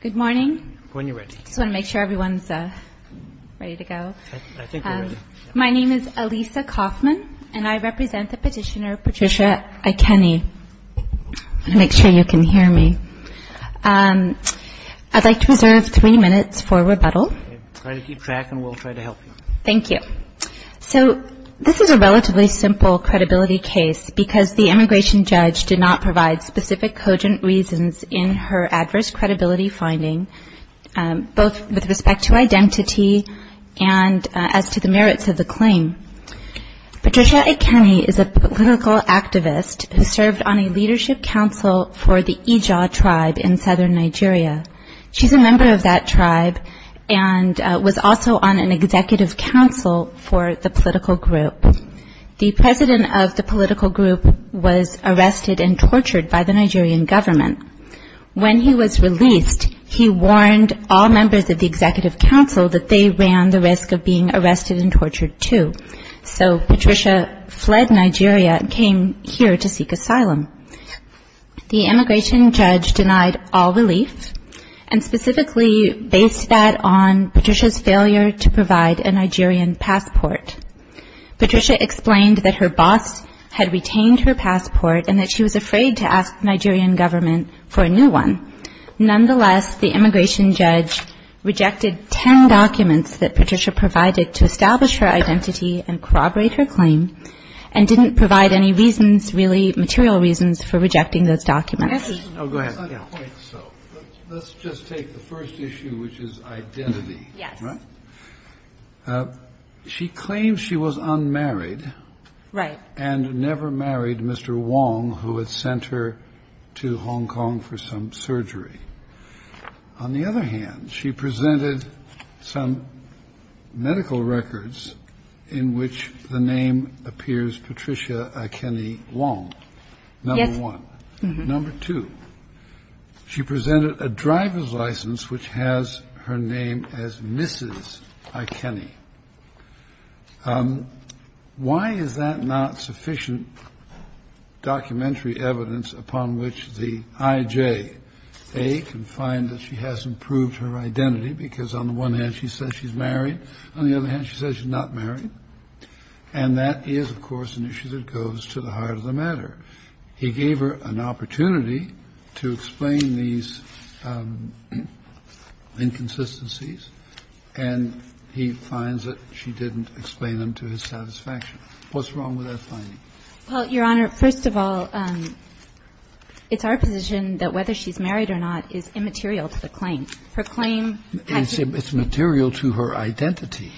Good morning. When you're ready. I just want to make sure everyone's ready to go. I think we're ready. My name is Elisa Kaufman, and I represent the petitioner Patricia Ikeni. I want to make sure you can hear me. I'd like to reserve three minutes for rebuttal. Try to keep track, and we'll try to help you. Thank you. So this is a relatively simple credibility case, because the immigration judge did not provide specific cogent reasons in her adverse credibility finding, both with respect to identity and as to the merits of the claim. Patricia Ikeni is a political activist who served on a leadership council for the Ija tribe in southern Nigeria. She's a member of that tribe and was also on an executive council for the political group. The president of the political group was arrested and tortured by the Nigerian government. When he was released, he warned all members of the executive council that they ran the risk of being arrested and tortured too. So Patricia fled Nigeria and came here to seek asylum. The immigration judge denied all relief and specifically based that on Patricia's failure to provide a Nigerian passport. Patricia explained that her boss had retained her passport and that she was afraid to ask the Nigerian government for a new one. Nonetheless, the immigration judge rejected ten documents that Patricia provided to establish her identity and corroborate her claim and didn't provide any reasons, really material reasons, for rejecting those documents. Oh, go ahead. I don't think so. Let's just take the first issue, which is identity. Yes. All right. She claims she was unmarried. Right. And never married Mr. Wong, who had sent her to Hong Kong for some surgery. On the other hand, she presented some medical records in which the name appears, Patricia Kenny Wong. Number one. Number two. She presented a driver's license, which has her name as Mrs. Kenny. Why is that not sufficient? Documentary evidence upon which the IJ can find that she has improved her identity because on the one hand, she says she's married. On the other hand, she says she's not married. And that is, of course, an issue that goes to the heart of the matter. He gave her an opportunity to explain these inconsistencies, and he finds that she didn't explain them to his satisfaction. What's wrong with that finding? Well, Your Honor, first of all, it's our position that whether she's married or not is immaterial to the claim. Her claim has to be the same. But it's material to her identity.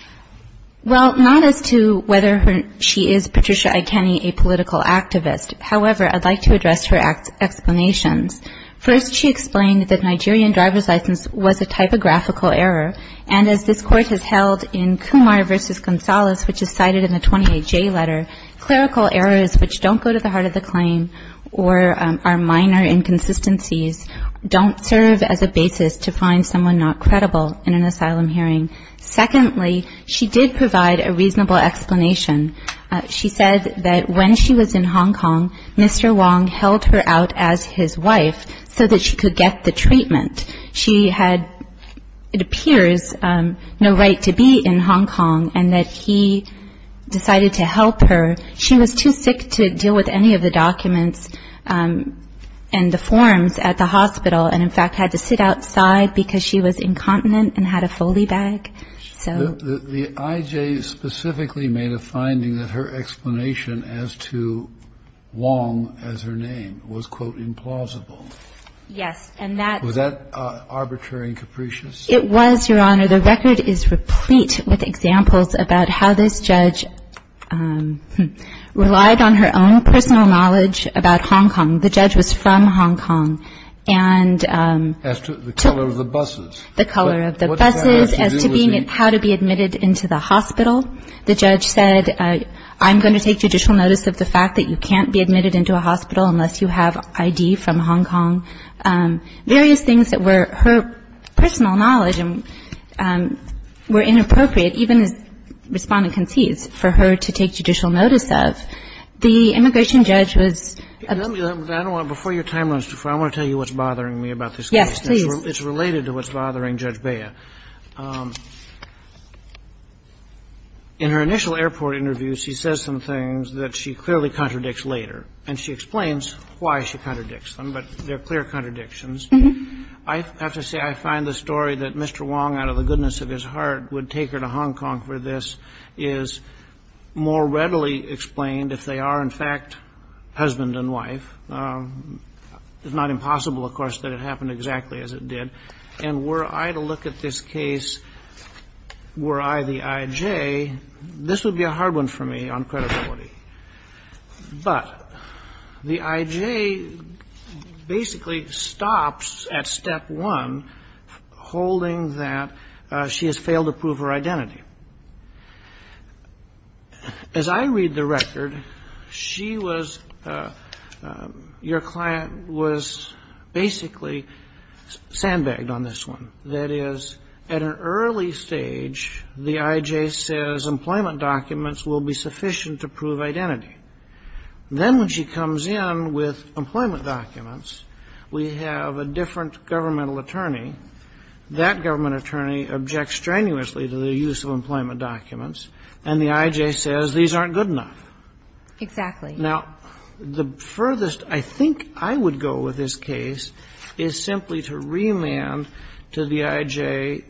Well, not as to whether she is Patricia I. Kenny, a political activist. However, I'd like to address her explanations. First, she explained that Nigerian driver's license was a typographical error. And as this Court has held in Kumar v. Gonzalez, which is cited in the 28J letter, clerical errors which don't go to the heart of the claim or are minor inconsistencies don't serve as a basis to find someone not credible in an asylum hearing. Secondly, she did provide a reasonable explanation. She said that when she was in Hong Kong, Mr. Wong held her out as his wife so that she could get the treatment. She had, it appears, no right to be in Hong Kong, and that he decided to help her. She was too sick to deal with any of the documents and the forms at the hospital and, in fact, had to sit outside because she was incontinent and had a Foley bag. So. The I.J. specifically made a finding that her explanation as to Wong as her name was, quote, implausible. Yes. And that. Was that arbitrary and capricious? It was, Your Honor. The record is replete with examples about how this judge relied on her own personal knowledge about Hong Kong. The judge was from Hong Kong and. As to the color of the buses. The color of the buses. As to being, how to be admitted into the hospital. The judge said, I'm going to take judicial notice of the fact that you can't be admitted into a hospital unless you have I.D. from Hong Kong. Various things that were her personal knowledge were inappropriate, even as Respondent concedes, for her to take judicial notice of. The immigration judge was. Before your time runs too far, I want to tell you what's bothering me about this case. Yes, please. It's related to what's bothering Judge Bea. In her initial airport interview, she says some things that she clearly contradicts later. And she explains why she contradicts them, but they're clear contradictions. I have to say, I find the story that Mr. Wong, out of the goodness of his heart, would take her to Hong Kong for this, is more readily explained if they are, in fact, husband and wife. It's not impossible, of course, that it happened exactly as it did. And were I to look at this case, were I the I.J., this would be a hard one for me on credibility. But the I.J. basically stops at step one, holding that she has failed to prove her identity. As I read the record, she was, your client was basically sandbagged on this one. That is, at an early stage, the I.J. says employment documents will be sufficient to prove identity. Then when she comes in with employment documents, we have a different governmental attorney. That government attorney objects strenuously to the use of employment documents. And the I.J. says these aren't good enough. Exactly. Now, the furthest I think I would go with this case is simply to remand to the I.J.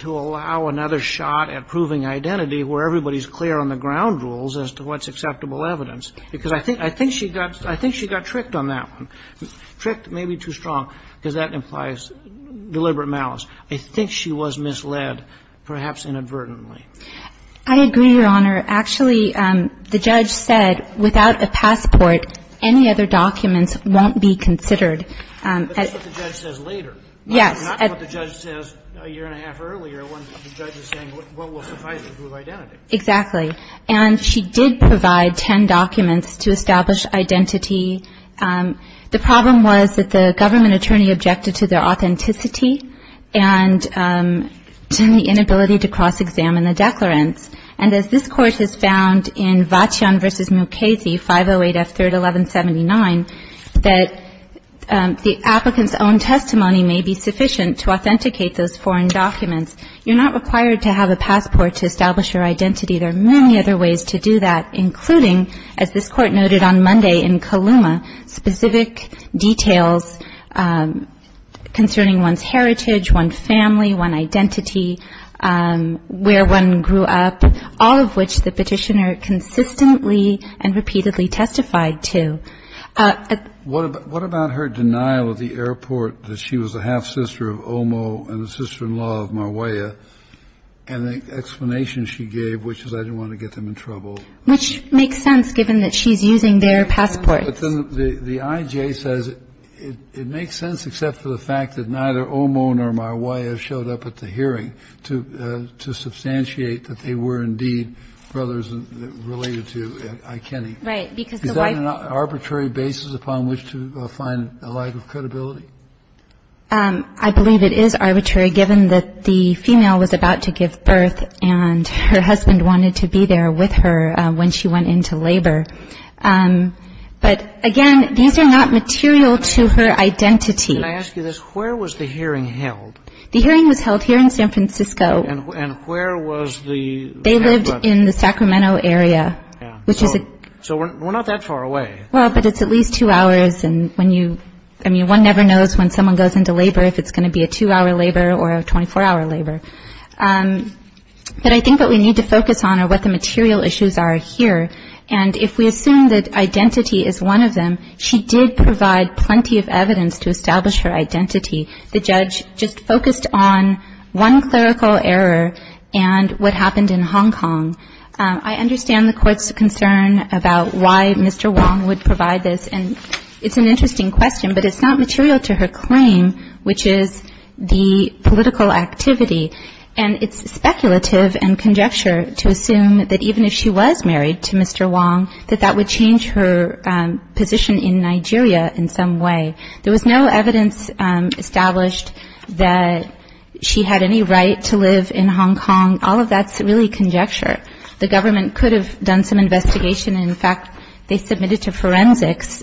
to allow another shot at proving identity where everybody is clear on the ground rules as to what's acceptable evidence. Because I think she got tricked on that one, tricked maybe too strong, because that implies deliberate malice. I think she was misled, perhaps inadvertently. I agree, Your Honor. Actually, the judge said without a passport, any other documents won't be considered. But that's what the judge says later. Yes. Not what the judge says a year and a half earlier when the judge is saying what will suffice to prove identity. Exactly. And she did provide ten documents to establish identity. The problem was that the government attorney objected to their authenticity and to the inability to cross-examine the declarants. And as this Court has found in Vachion v. Mukasey, 508 F. 3rd, 1179, that the applicant's own testimony may be sufficient to authenticate those foreign documents. You're not required to have a passport to establish your identity. There are many other ways to do that, including, as this Court noted on Monday, in Kaluma, specific details concerning one's heritage, one's family, one's identity, where one grew up, all of which the petitioner consistently and repeatedly testified to. What about her denial at the airport that she was a half-sister of Omo and a sister-in-law of Marwea, and the explanation she gave, which is, I didn't want to get them in trouble? Which makes sense, given that she's using their passports. But then the I.J. says it makes sense, except for the fact that neither Omo nor Marwea showed up at the hearing to substantiate that they were indeed brothers related to Ikeni. Right. Is that an arbitrary basis upon which to find a lack of credibility? I believe it is arbitrary, given that the female was about to give birth and her husband wanted to be there with her when she went into labor. But, again, these are not material to her identity. Can I ask you this? Where was the hearing held? The hearing was held here in San Francisco. And where was the... They lived in the Sacramento area, which is a... So we're not that far away. Well, but it's at least two hours. I mean, one never knows when someone goes into labor if it's going to be a two-hour labor or a 24-hour labor. But I think what we need to focus on are what the material issues are here. And if we assume that identity is one of them, she did provide plenty of evidence to establish her identity. The judge just focused on one clerical error and what happened in Hong Kong. I understand the Court's concern about why Mr. Wong would provide this. And it's an interesting question, but it's not material to her claim, which is the political activity. And it's speculative and conjecture to assume that even if she was married to Mr. Wong, that that would change her position in Nigeria in some way. There was no evidence established that she had any right to live in Hong Kong. All of that's really conjecture. The government could have done some investigation. In fact, they submitted to forensics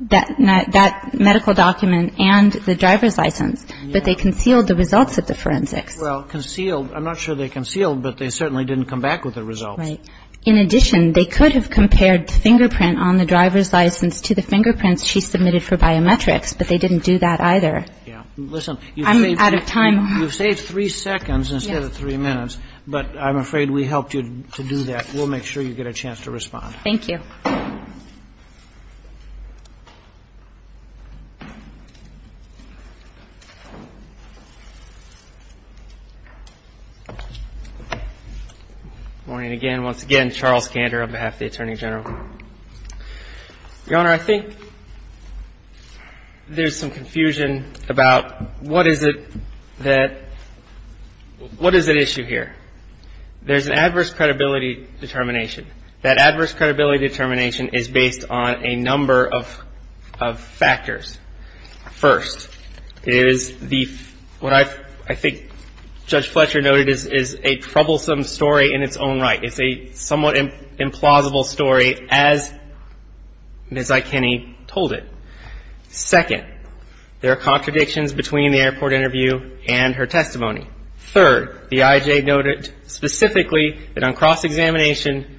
that medical document and the driver's license. But they concealed the results at the forensics. Well, concealed. I'm not sure they concealed, but they certainly didn't come back with the results. Right. In addition, they could have compared the fingerprint on the driver's license to the fingerprints she submitted for biometrics, but they didn't do that either. Yeah. Listen. I'm out of time. You've saved three seconds instead of three minutes. But I'm afraid we helped you to do that. We'll make sure you get a chance to respond. Thank you. Good morning again. Once again, Charles Kander on behalf of the Attorney General. Your Honor, I think there's some confusion about what is it that – what is at issue here? There's an adverse credibility determination. That adverse credibility determination is based on a number of factors. First, it is the – what I think Judge Fletcher noted is a troublesome story in its own right. It's a somewhat implausible story as Ms. Ikeni told it. Second, there are contradictions between the airport interview and her testimony. Third, the IJ noted specifically that on cross-examination,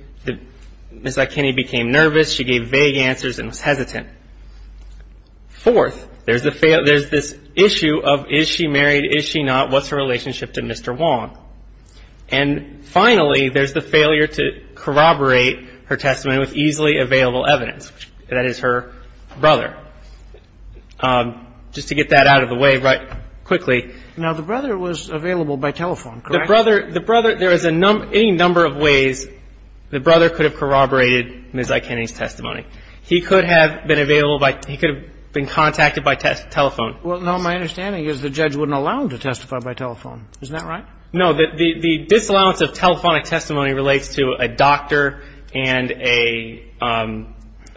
Ms. Ikeni became nervous. She gave vague answers and was hesitant. Fourth, there's the – there's this issue of is she married, is she not, what's her relationship to Mr. Wong? And finally, there's the failure to corroborate her testimony with easily available evidence. That is her brother. Just to get that out of the way right quickly. Now, the brother was available by telephone, correct? The brother – the brother – there is a number – any number of ways the brother could have corroborated Ms. Ikeni's testimony. He could have been available by – he could have been contacted by telephone. Well, no, my understanding is the judge wouldn't allow him to testify by telephone. Isn't that right? No. The disallowance of telephonic testimony relates to a doctor and a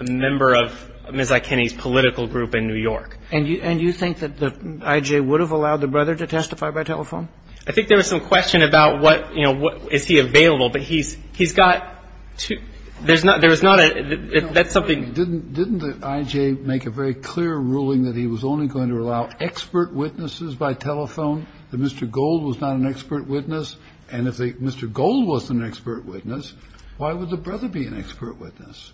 member of Ms. Ikeni's political group in New York. And you – and you think that the I.J. would have allowed the brother to testify by telephone? I think there was some question about what, you know, is he available. But he's – he's got – there's not – there's not a – that's something – Didn't – didn't the I.J. make a very clear ruling that he was only going to allow expert witnesses by telephone, that Mr. Gold was not an expert witness? And if Mr. Gold was an expert witness, why would the brother be an expert witness?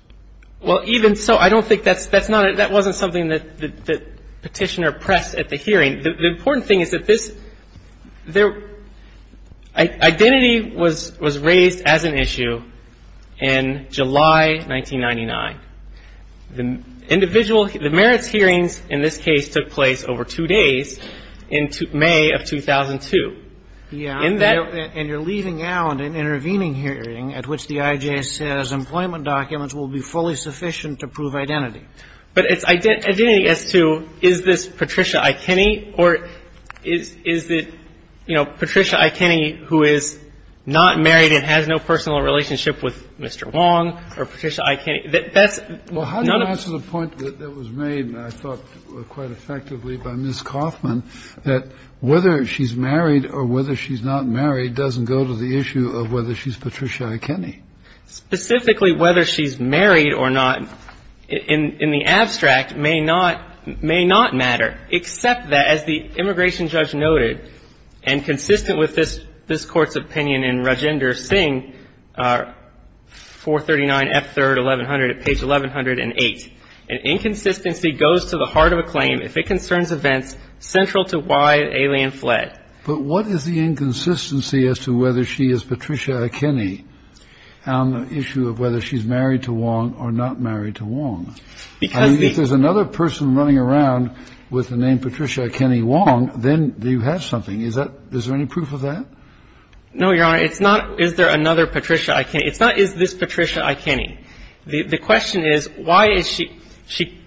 Well, even so, I don't think that's – that's not – that wasn't something that Petitioner pressed at the hearing. The important thing is that this – there – identity was – was raised as an issue in July 1999. The individual – the merits hearings in this case took place over two days in May of 2002. Yeah. And you're leaving out an intervening hearing at which the I.J. says employment documents will be fully sufficient to prove identity. But it's identity as to is this Patricia Ikeni or is – is it, you know, Patricia Ikeni who is not married and has no personal relationship with Mr. Wong or Patricia Ikeni? That's none of the – Well, how do you answer the point that was made, I thought, quite effectively by Ms. Kaufman, that whether she's married or whether she's not married doesn't go to the issue of whether she's Patricia Ikeni? Specifically, whether she's married or not in – in the abstract may not – may not matter, except that, as the immigration judge noted, and consistent with this – this Court's opinion in Rajender Singh, 439 F. 3rd, 1100, at page 1108, an inconsistency goes to the heart of a claim if it concerns events central to why an alien fled. But what is the inconsistency as to whether she is Patricia Ikeni on the issue of whether she's married to Wong or not married to Wong? Because the – I mean, if there's another person running around with the name Patricia Ikeni Wong, then you have something. Is that – is there any proof of that? No, Your Honor. It's not is there another Patricia Ikeni. It's not is this Patricia Ikeni. The question is, why is she – she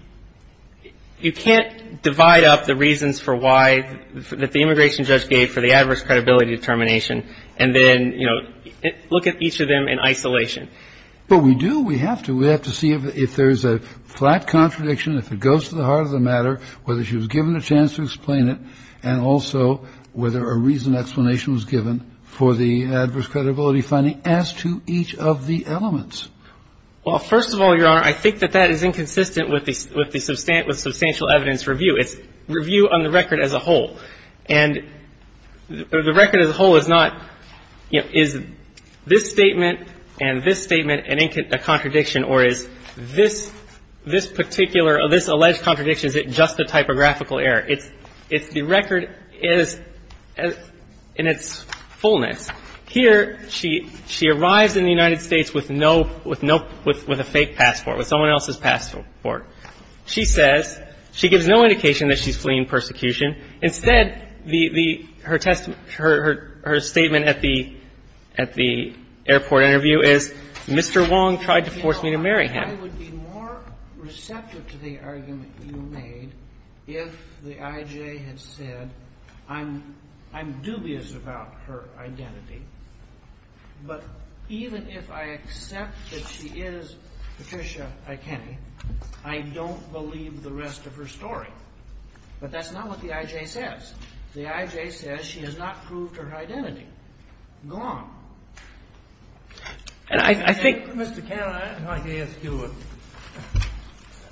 – you can't divide up the reasons for why – that the immigration judge gave for the adverse credibility determination and then, you know, look at each of them in isolation. But we do. We have to. We have to see if there's a flat contradiction, if it goes to the heart of the matter, whether she was given a chance to explain it, and also whether a reasoned explanation was given for the adverse credibility finding as to So the question is, what is the inconsistency in each of the elements? Well, first of all, Your Honor, I think that that is inconsistent with the – with the – with substantial evidence review. It's review on the record as a whole. And the record as a whole is not, you know, is this statement and this statement a contradiction or is this – this particular – this alleged contradiction, is it just a typographical error? It's – it's – the record is in its fullness. Here, she – she arrives in the United States with no – with no – with a fake passport, with someone else's passport. She says – she gives no indication that she's fleeing persecution. Instead, the – the – her – her statement at the – at the airport interview is, Mr. Wong tried to force me to marry him. I would be more receptive to the argument you made if the I.J. had said, I'm – I'm dubious about her identity, but even if I accept that she is Patricia Ikeni, I don't believe the rest of her story. But that's not what the I.J. says. The I.J. says she has not proved her identity. Go on. And I – I think – Mr. Cannon, I'd like to ask you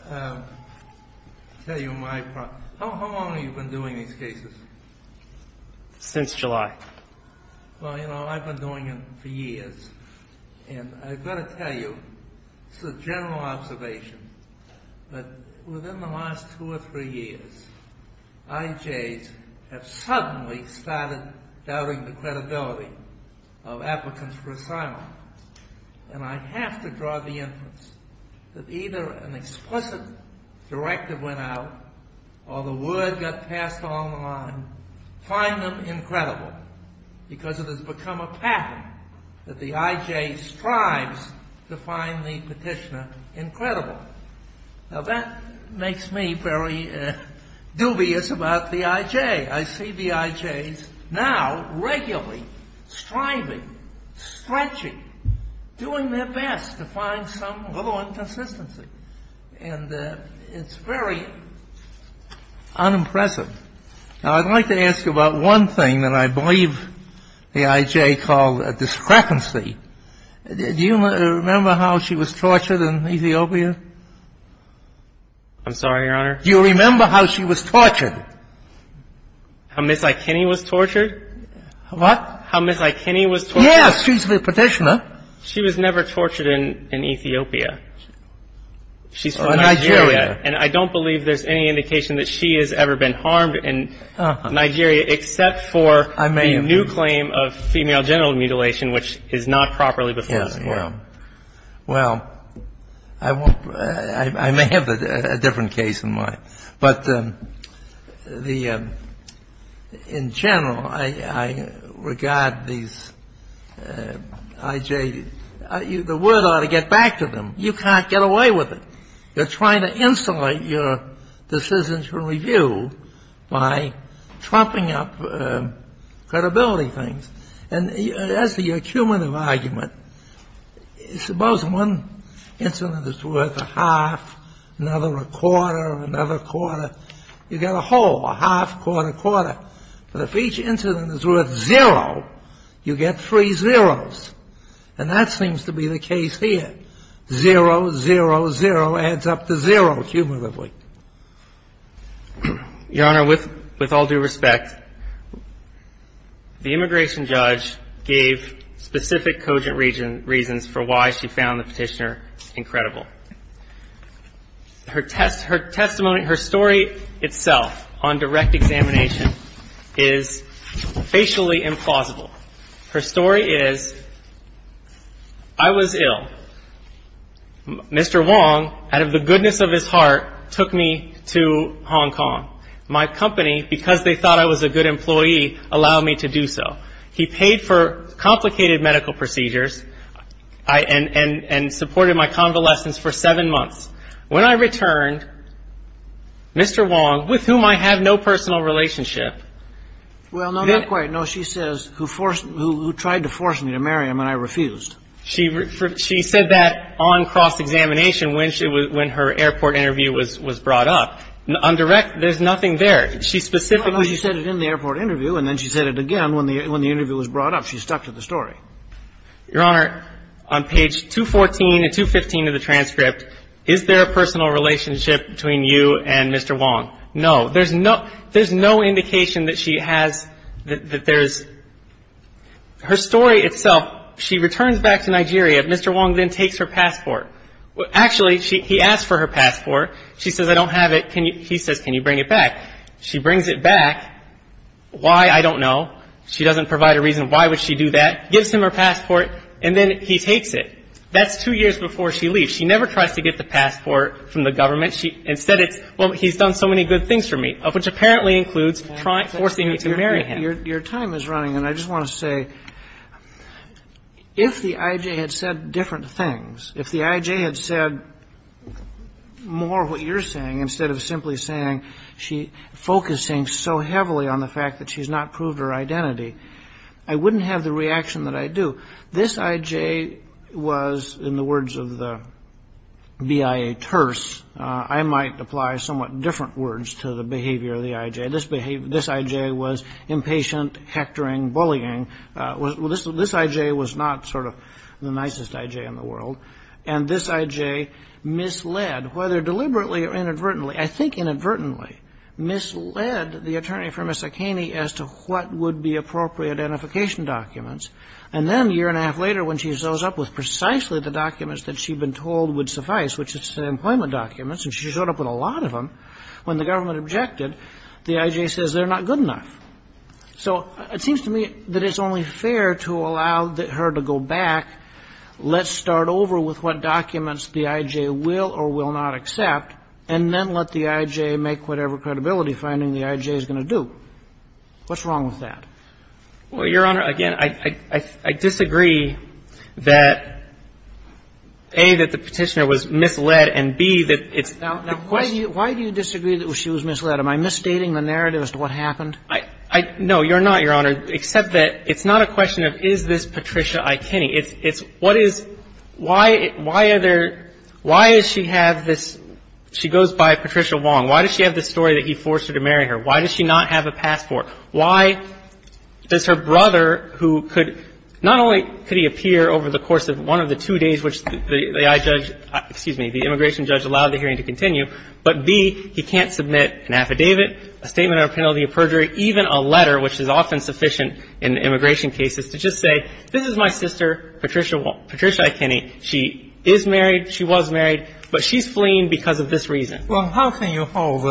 a – tell you my – how long have you been doing these cases? Since July. Well, you know, I've been doing them for years. And I've got to tell you, this is a general observation, but within the last two or three years, I.J.'s have suddenly started doubting the credibility of applicants for asylum. And I have to draw the inference that either an explicit directive went out or the word got passed along the line, find them incredible, because it has become a pattern that the I.J. strives to find the petitioner incredible. Now, that makes me very dubious about the I.J. I see the I.J.'s now regularly striving, stretching, doing their best to find some little inconsistency. And it's very unimpressive. Now, I'd like to ask you about one thing that I believe the I.J. called a discrepancy. Do you remember how she was tortured in Ethiopia? I'm sorry, Your Honor? Do you remember how she was tortured? How Ms. Ikeni was tortured? What? How Ms. Ikeni was tortured? Yes, she's the petitioner. She was never tortured in Ethiopia. She's from Nigeria. And I don't believe there's any indication that she has ever been harmed in Nigeria, except for the new claim of female genital mutilation, which is not properly before this Court. Yeah, yeah. Well, I may have a different case in mind. But the — in general, I regard these I.J. — the word ought to get back to them. You can't get away with it. You're trying to insulate your decision to review by trumping up credibility things. And as to your cumulative argument, suppose one incident is worth a half, another a quarter, another quarter. You get a whole, a half, quarter, quarter. But if each incident is worth zero, you get three zeros. And that seems to be the case here. Zero, zero, zero adds up to zero cumulatively. Your Honor, with all due respect, the immigration judge gave specific cogent reasons for why she found the petitioner incredible. Her testimony — her story itself on direct examination is facially implausible. Her story is, I was ill. Mr. Wong, out of the goodness of his heart, took me to Hong Kong. My company, because they thought I was a good employee, allowed me to do so. He paid for complicated medical procedures and supported my convalescence for seven months. When I returned, Mr. Wong, with whom I have no personal relationship — who tried to force me to marry him, and I refused. She said that on cross-examination when her airport interview was brought up. On direct, there's nothing there. She specifically — No, no. She said it in the airport interview, and then she said it again when the interview was brought up. She stuck to the story. Your Honor, on page 214 and 215 of the transcript, is there a personal relationship between you and Mr. Wong? No, no. There's no indication that she has — that there's — her story itself, she returns back to Nigeria. Mr. Wong then takes her passport. Actually, he asks for her passport. She says, I don't have it. He says, can you bring it back? She brings it back. Why, I don't know. She doesn't provide a reason why would she do that. Gives him her passport, and then he takes it. That's two years before she leaves. She never tries to get the passport from the government. Instead, it's, well, he's done so many good things for me, which apparently includes forcing me to marry him. Your time is running, and I just want to say, if the I.J. had said different things, if the I.J. had said more of what you're saying instead of simply saying she — focusing so heavily on the fact that she's not proved her identity, I wouldn't have the reaction that I do. This I.J. was, in the words of the BIA terse — I might apply somewhat different words to the behavior of the I.J. This behavior — this I.J. was impatient, hectoring, bullying. This I.J. was not sort of the nicest I.J. in the world. And this I.J. misled, whether deliberately or inadvertently, I think inadvertently, misled the attorney for Miss Akeney as to what would be appropriate identification documents. And then a year and a half later, when she shows up with precisely the documents that she'd been told would suffice, which is the employment documents, and she showed up with a lot of them, when the government objected, the I.J. says they're not good enough. So it seems to me that it's only fair to allow her to go back, let's start over with what documents the I.J. will or will not accept, and then let the I.J. make whatever credibility finding the I.J. is going to do. What's wrong with that? Well, Your Honor, again, I disagree that, A, that the Petitioner was misled, and, B, that it's the question — Now, why do you disagree that she was misled? Am I misstating the narrative as to what happened? No, Your Honor, except that it's not a question of is this Patricia Akeney. It's what is — why are there — why does she have this — she goes by Patricia Wong. Why does she have this story that he forced her to marry her? Why does she not have a passport? Why does her brother, who could — not only could he appear over the course of one of the two days which the I.J. — excuse me, the immigration judge allowed the hearing to continue, but, B, he can't submit an affidavit, a statement of a penalty of perjury, even a letter, which is often sufficient in immigration cases to just say, this is my sister, Patricia Akeney. She is married. She was married. But she's fleeing because of this reason. Well, how can you hold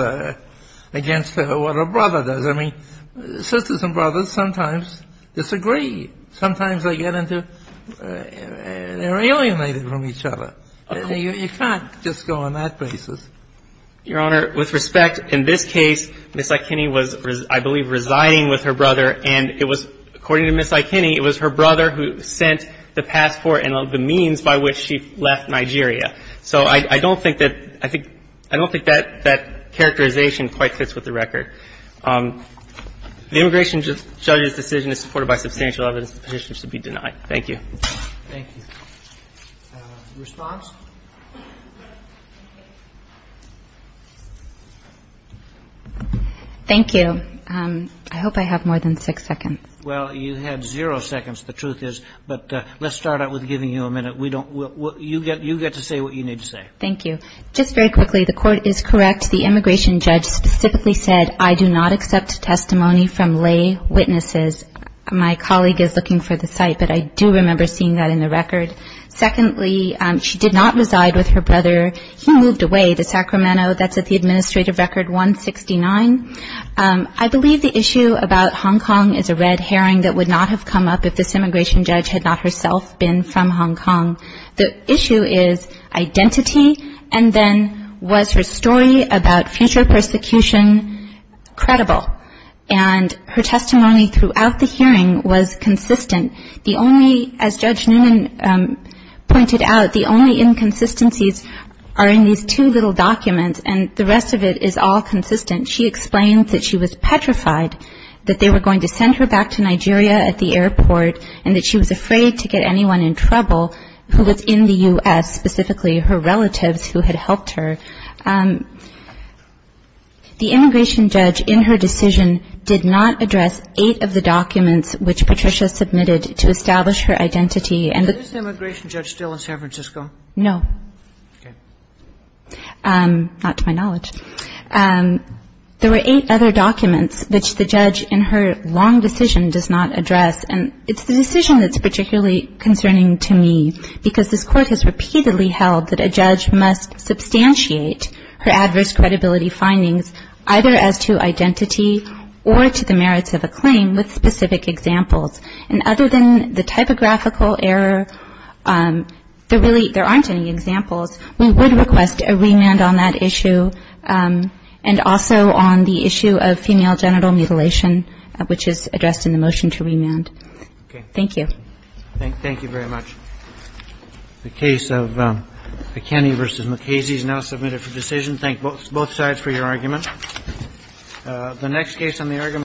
against what her brother does? I mean, sisters and brothers sometimes disagree. Sometimes they get into — they're alienated from each other. You can't just go on that basis. Your Honor, with respect, in this case, Ms. Akeney was, I believe, residing with her brother, and it was — according to Ms. Akeney, it was her brother who sent the passport and the means by which she left Nigeria. So I don't think that — I think — I don't think that that characterization quite fits with the record. The immigration judge's decision is supported by substantial evidence. The petitioner should be denied. Thank you. Thank you. Response? Thank you. I hope I have more than six seconds. Well, you had zero seconds, the truth is. But let's start out with giving you a minute. You get to say what you need to say. Thank you. Just very quickly, the court is correct. The immigration judge specifically said, I do not accept testimony from lay witnesses. My colleague is looking for the site, but I do remember seeing that in the record. Secondly, she did not reside with her brother. He moved away to Sacramento. That's at the administrative record 169. I believe the issue about Hong Kong is a red herring that would not have come up if this The issue is identity. And then was her story about future persecution credible? And her testimony throughout the hearing was consistent. The only — as Judge Newman pointed out, the only inconsistencies are in these two little documents. And the rest of it is all consistent. She explained that she was petrified, that they were going to send her back to Nigeria at the airport, and that she was afraid to get anyone in trouble who was in the U.S., specifically her relatives who had helped her. The immigration judge in her decision did not address eight of the documents which Patricia submitted to establish her identity. Is the immigration judge still in San Francisco? No. Okay. Not to my knowledge. There were eight other documents which the judge in her long decision does not address. And it's the decision that's particularly concerning to me, because this Court has repeatedly held that a judge must substantiate her adverse credibility findings, either as to identity or to the merits of a claim, with specific examples. And other than the typographical error, there aren't any examples. We would request a remand on that issue and also on the issue of female genital mutilation, which is addressed in the motion to remand. Okay. Thank you. Thank you very much. The case of McKinney v. McKasey is now submitted for decision. Thank both sides for your argument.